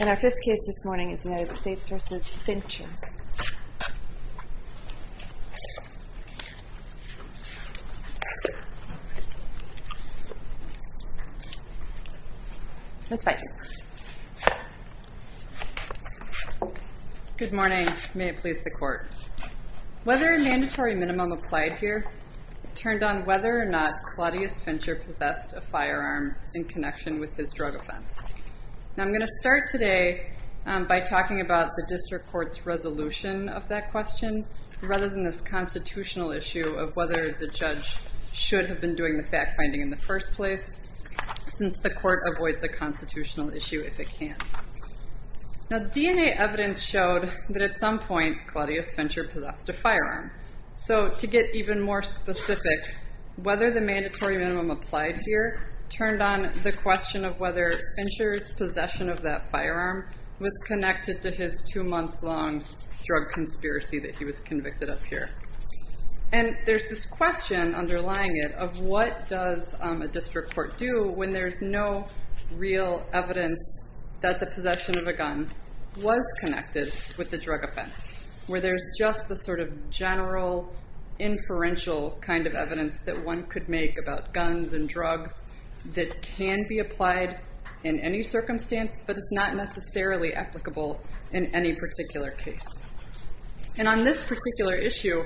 And our fifth case this morning is United States v. Fincher. Ms. Feigin. Good morning. May it please the Court. Whether a mandatory minimum applied here turned on whether or not Claudius Fincher possessed a firearm in connection with his drug offense. I'm going to start today by talking about the District Court's resolution of that question, rather than this constitutional issue of whether the judge should have been doing the fact-finding in the first place, since the Court avoids a constitutional issue if it can. Now, DNA evidence showed that at some point Claudius Fincher possessed a firearm. So, to get even more specific, whether the mandatory minimum applied here turned on the question of whether Fincher's possession of that firearm was connected to his two-month-long drug conspiracy that he was convicted of here. And there's this question underlying it of what does a District Court do when there's no real evidence that the possession of a gun was connected with the drug offense? Where there's just the sort of general inferential kind of evidence that one could make about guns and drugs that can be applied in any circumstance, but it's not necessarily applicable in any particular case. And on this particular issue,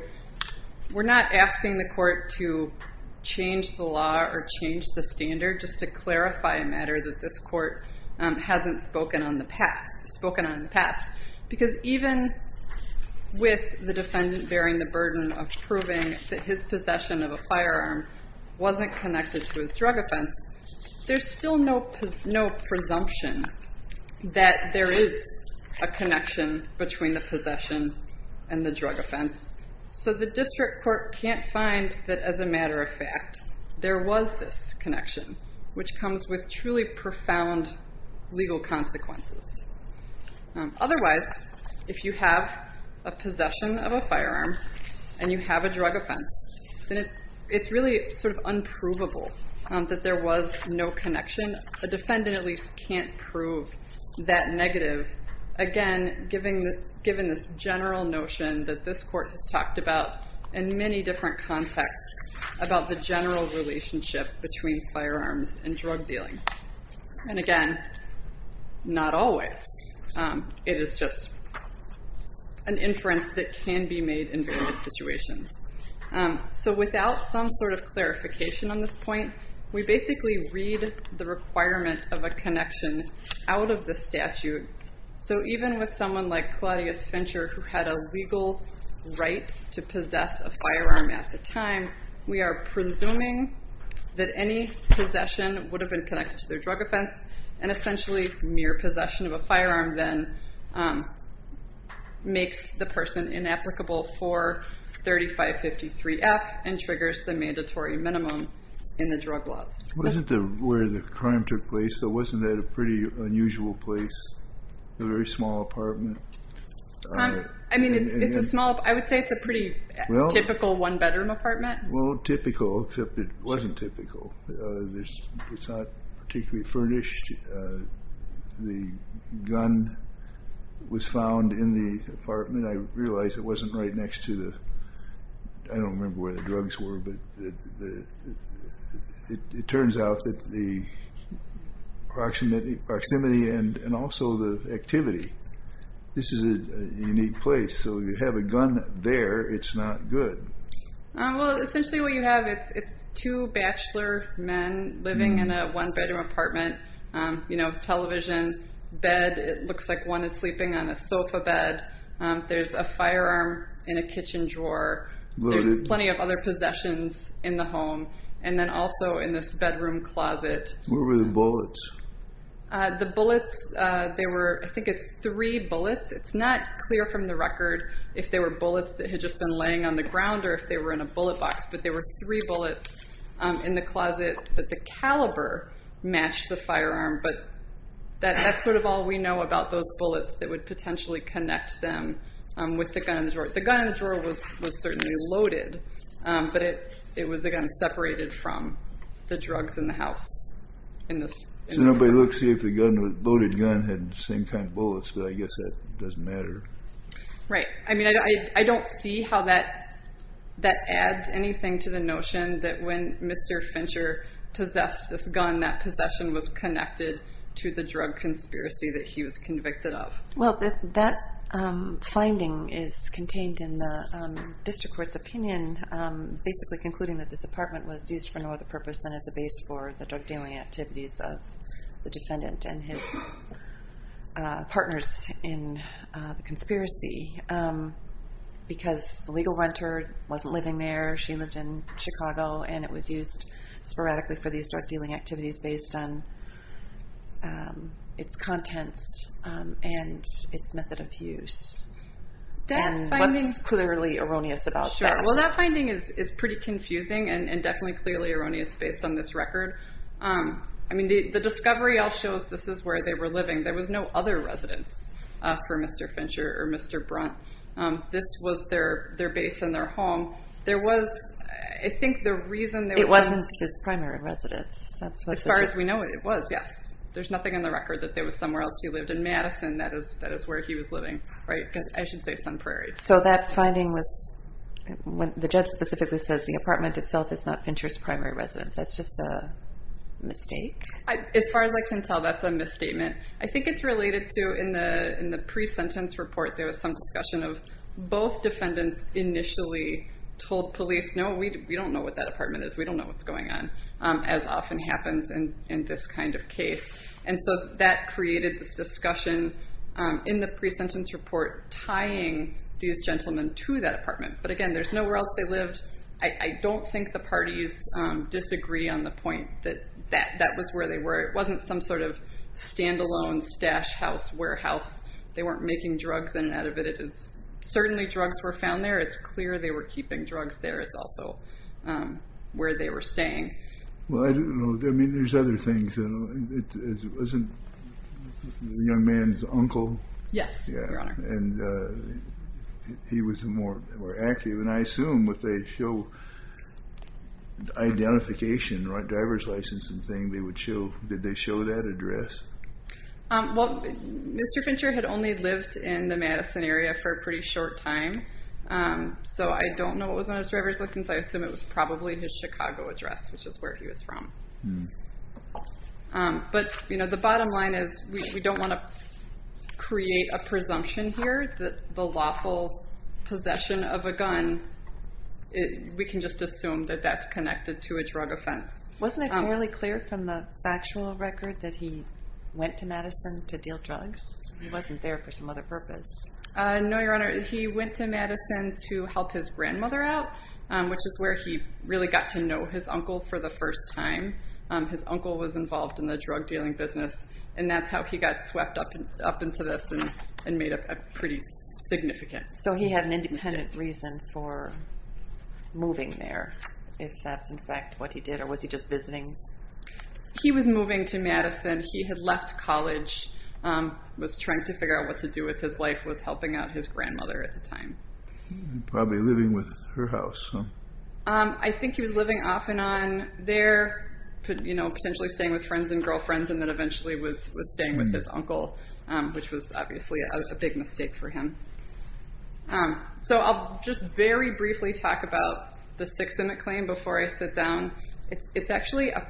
we're not asking the Court to change the law or change the standard, just to clarify a matter that this Court hasn't spoken on in the past. Because even with the defendant bearing the burden of proving that his possession of a firearm wasn't connected to his drug offense, there's still no presumption that there is a connection between the possession and the drug offense. So the District Court can't find that, as a matter of fact, there was this connection, which comes with truly profound legal consequences. Otherwise, if you have a possession of a firearm and you have a drug offense, then it's really sort of unprovable that there was no connection. A defendant at least can't prove that negative, again, given this general notion that this Court has talked about in many different contexts about the general relationship between firearms and drug dealing. And again, not always. It is just an inference that can be made in various situations. So without some sort of clarification on this point, we basically read the requirement of a connection out of the statute. So even with someone like Claudius Fincher, who had a legal right to possess a firearm at the time, we are presuming that any possession would have been connected to their drug offense. And essentially, mere possession of a firearm then makes the person inapplicable for 3553F and triggers the mandatory minimum in the drug laws. Wasn't that where the crime took place? Wasn't that a pretty unusual place? A very small apartment? I would say it's a pretty typical one-bedroom apartment. Well, typical, except it wasn't typical. It's not particularly furnished. The gun was found in the apartment. I realized it wasn't right next to the, I don't remember where the drugs were, but it turns out that the proximity and also the activity, this is a unique place. So you have a gun there, it's not good. Well, essentially what you have, it's two bachelor men living in a one-bedroom apartment. Television bed, it looks like one is sleeping on a sofa bed. There's a firearm in a kitchen drawer. There's plenty of other possessions in the home. And then also in this bedroom closet. Where were the bullets? The bullets, there were, I think it's three bullets. It's not clear from the record if they were bullets that had just been laying on the ground or if they were in a bullet box, but there were three bullets in the closet that the caliber matched the firearm. But that's sort of all we know about those bullets that would potentially connect them with the gun in the drawer. The gun in the drawer was certainly loaded, but it was, again, separated from the drugs in the house. So nobody looked to see if the loaded gun had the same kind of bullets, but I guess that doesn't matter. Right. I mean, I don't see how that adds anything to the notion that when Mr. Fincher possessed this gun, that possession was connected to the drug conspiracy that he was convicted of. Well, that finding is contained in the district court's opinion, basically concluding that this apartment was used for no other purpose than as a base for the drug dealing activities of the defendant and his partners in the conspiracy. Because the legal renter wasn't living there. She lived in Chicago, and it was used sporadically for these drug dealing activities based on its contents and its method of use. And what's clearly erroneous about that? Well, that finding is pretty confusing and definitely clearly erroneous based on this record. I mean, the discovery all shows this is where they were living. There was no other residence for Mr. Fincher or Mr. Brunt. This was their base and their home. There was, I think, the reason there was... It wasn't his primary residence. As far as we know, it was, yes. There's nothing in the record that there was somewhere else he lived. In Madison, that is where he was living, right? I should say Sun Prairie. So that finding was... The judge specifically says the apartment itself is not Fincher's primary residence. That's just a mistake? As far as I can tell, that's a misstatement. I think it's related to, in the pre-sentence report, there was some discussion of both defendants initially told police, No, we don't know what that apartment is. We don't know what's going on, as often happens in this kind of case. And so that created this discussion in the pre-sentence report tying these gentlemen to that apartment. But, again, there's nowhere else they lived. I don't think the parties disagree on the point that that was where they were. It wasn't some sort of standalone stash house, warehouse. They weren't making drugs in and out of it. Certainly drugs were found there. It's clear they were keeping drugs there. It's also where they were staying. Well, I don't know. I mean, there's other things. It wasn't the young man's uncle? Yes, Your Honor. And he was more active. And I assume if they show identification, driver's license and thing, they would show, did they show that address? Well, Mr. Fincher had only lived in the Madison area for a pretty short time. So I don't know what was on his driver's license. I assume it was probably his Chicago address, which is where he was from. But the bottom line is we don't want to create a presumption here that the lawful possession of a gun, we can just assume that that's connected to a drug offense. Wasn't it fairly clear from the factual record that he went to Madison to deal drugs? He wasn't there for some other purpose. No, Your Honor. He went to Madison to help his grandmother out, which is where he really got to know his uncle for the first time. His uncle was involved in the drug dealing business, and that's how he got swept up into this and made a pretty significant mistake. So he had an independent reason for moving there, if that's, in fact, what he did. Or was he just visiting? He was moving to Madison. He had left college, was trying to figure out what to do with his life, was helping out his grandmother at the time. Probably living with her house. I think he was living off and on there, potentially staying with friends and girlfriends, and then eventually was staying with his uncle, which was obviously a big mistake for him. So I'll just very briefly talk about the Sixth Amendment claim before I sit down. It's actually a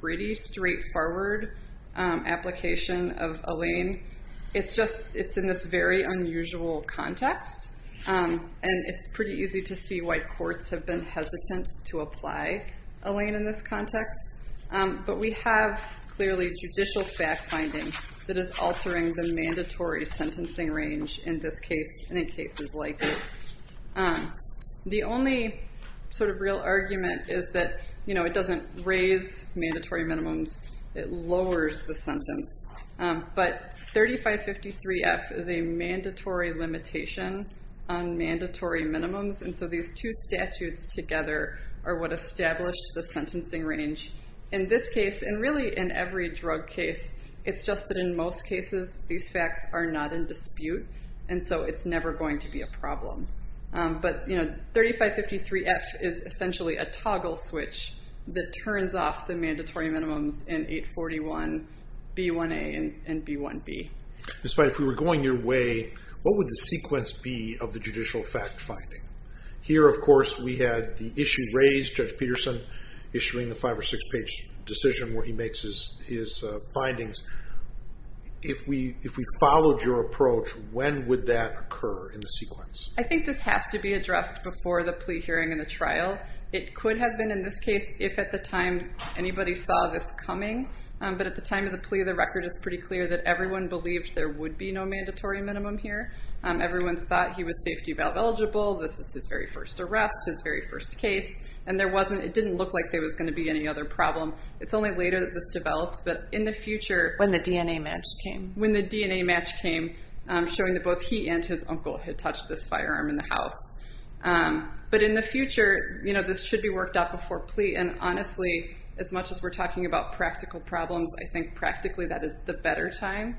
pretty straightforward application of a lien. It's in this very unusual context, and it's pretty easy to see why courts have been hesitant to apply a lien in this context. But we have, clearly, judicial fact-finding that is altering the mandatory sentencing range in this case and in cases like it. The only real argument is that it doesn't raise mandatory minimums, it lowers the sentence. But 3553F is a mandatory limitation on mandatory minimums, and so these two statutes together are what established the sentencing range. In this case, and really in every drug case, it's just that in most cases, these facts are not in dispute. And so it's never going to be a problem. But 3553F is essentially a toggle switch that turns off the mandatory minimums in 841B1A and 841B1B. If we were going your way, what would the sequence be of the judicial fact-finding? Here, of course, we had the issue raised, Judge Peterson issuing the five- or six-page decision where he makes his findings. If we followed your approach, when would that occur in the sequence? I think this has to be addressed before the plea hearing and the trial. It could have been in this case if at the time anybody saw this coming. But at the time of the plea, the record is pretty clear that everyone believed there would be no mandatory minimum here. Everyone thought he was safety valve eligible. This is his very first arrest, his very first case. And it didn't look like there was going to be any other problem. It's only later that this developed, but in the future. When the DNA match came. When the DNA match came, showing that both he and his uncle had touched this firearm in the house. But in the future, this should be worked out before plea. And honestly, as much as we're talking about practical problems, I think practically that is the better time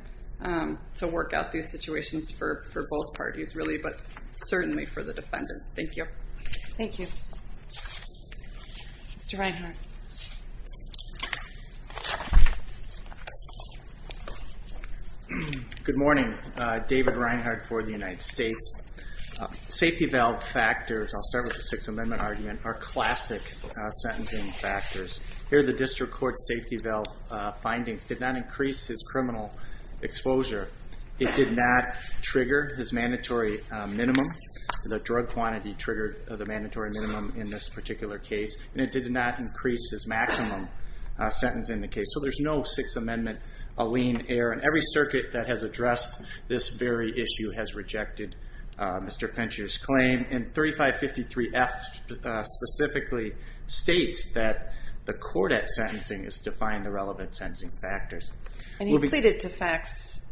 to work out these situations for both parties, really, but certainly for the defendant. Thank you. Thank you. Mr. Reinhart. Good morning. David Reinhart for the United States. Safety valve factors, I'll start with the Sixth Amendment argument, are classic sentencing factors. Here the district court safety valve findings did not increase his criminal exposure. It did not trigger his mandatory minimum. The drug quantity triggered the mandatory minimum in this particular case. And it did not increase his maximum sentence in the case. So there's no Sixth Amendment, a lien error. And every circuit that has addressed this very issue has rejected Mr. Fincher's claim. And 3553F specifically states that the court at sentencing has defined the relevant sentencing factors. And he pleaded to facts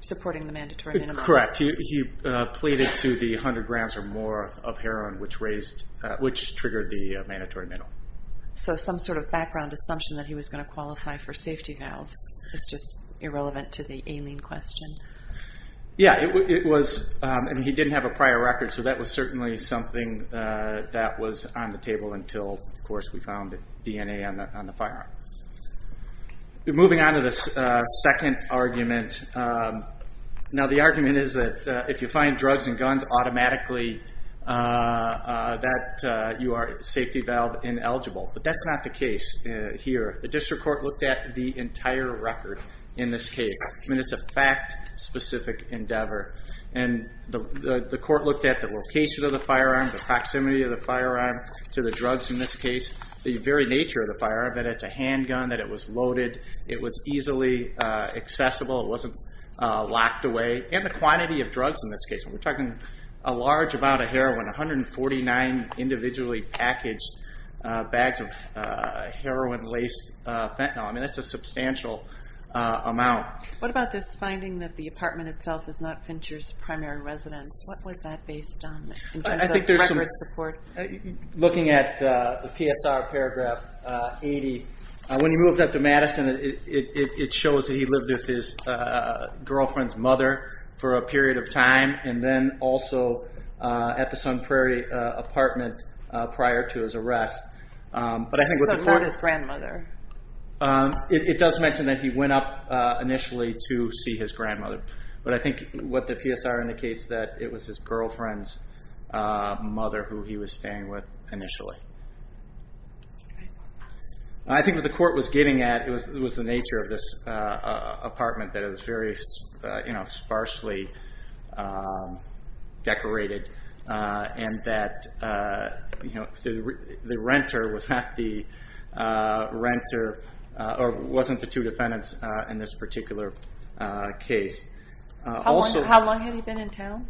supporting the mandatory minimum. Correct. He pleaded to the 100 grams or more of heroin, which triggered the mandatory minimum. So some sort of background assumption that he was going to qualify for safety valve is just irrelevant to the alien question. Yeah, it was. And he didn't have a prior record, so that was certainly something that was on the table until, of course, we found the DNA on the firearm. Moving on to the second argument. Now, the argument is that if you find drugs and guns automatically, that you are safety valve ineligible. But that's not the case here. The district court looked at the entire record in this case. I mean, it's a fact-specific endeavor. And the court looked at the location of the firearm, the proximity of the firearm to the drugs in this case, the very nature of the firearm, that it's a handgun, that it was loaded, it was easily accessible, it wasn't locked away, and the quantity of drugs in this case. We're talking a large amount of heroin, 149 individually packaged bags of heroin-laced fentanyl. I mean, that's a substantial amount. What about this finding that the apartment itself is not Fincher's primary residence? What was that based on in terms of record support? Looking at the PSR paragraph 80, when he moved up to Madison, it shows that he lived with his girlfriend's mother for a period of time and then also at the Sun Prairie apartment prior to his arrest. So not his grandmother. It does mention that he went up initially to see his grandmother. But I think what the PSR indicates that it was his girlfriend's mother who he was staying with initially. I think what the court was getting at was the nature of this apartment, that it was very sparsely decorated and that the renter was not the renter or wasn't the two defendants in this particular case. How long had he been in town?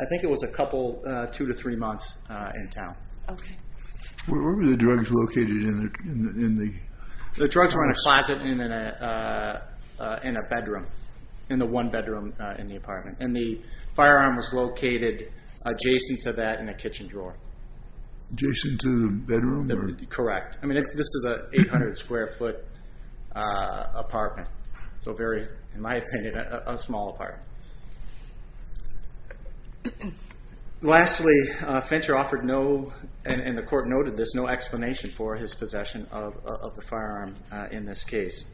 I think it was a couple, two to three months in town. Where were the drugs located? The drugs were in a closet in a bedroom, in the one bedroom in the apartment. And the firearm was located adjacent to that in a kitchen drawer. Adjacent to the bedroom? Correct. I mean, this is an 800 square foot apartment. So very, in my opinion, a small apartment. Lastly, Fincher offered no, and the court noted this, no explanation for his possession of the firearm in this case.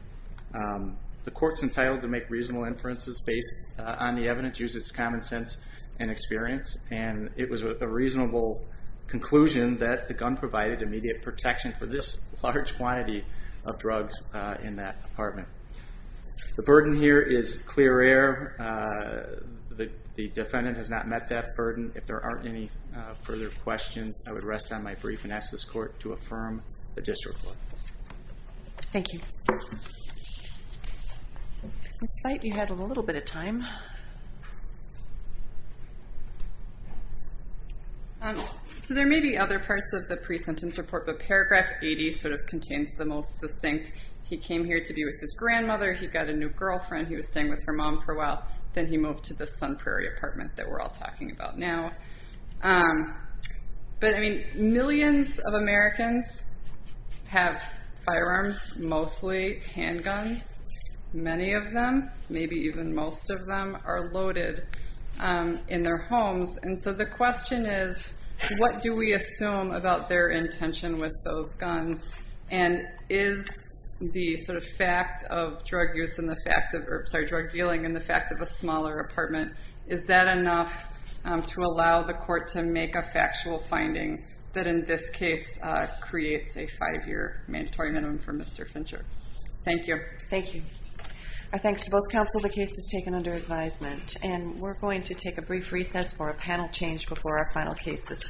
The court's entitled to make reasonable inferences based on the evidence, which uses common sense and experience, and it was a reasonable conclusion that the gun provided immediate protection for this large quantity of drugs in that apartment. The burden here is clear air. The defendant has not met that burden. If there aren't any further questions, I would rest on my brief and ask this court to affirm the district court. Thank you. Ms. Knight, you had a little bit of time. So there may be other parts of the pre-sentence report, but paragraph 80 sort of contains the most succinct. He came here to be with his grandmother. He got a new girlfriend. He was staying with her mom for a while. Then he moved to the Sun Prairie apartment that we're all talking about now. But, I mean, millions of Americans have firearms, mostly handguns. Many of them, maybe even most of them, are loaded in their homes, and so the question is what do we assume about their intention with those guns, and is the sort of fact of drug dealing and the fact of a smaller apartment, is that enough to allow the court to make a factual finding that, in this case, creates a five-year mandatory minimum for Mr. Fincher? Thank you. Thank you. Our thanks to both counsel. The case is taken under advisement, and we're going to take a brief recess for a panel change before our final case this morning.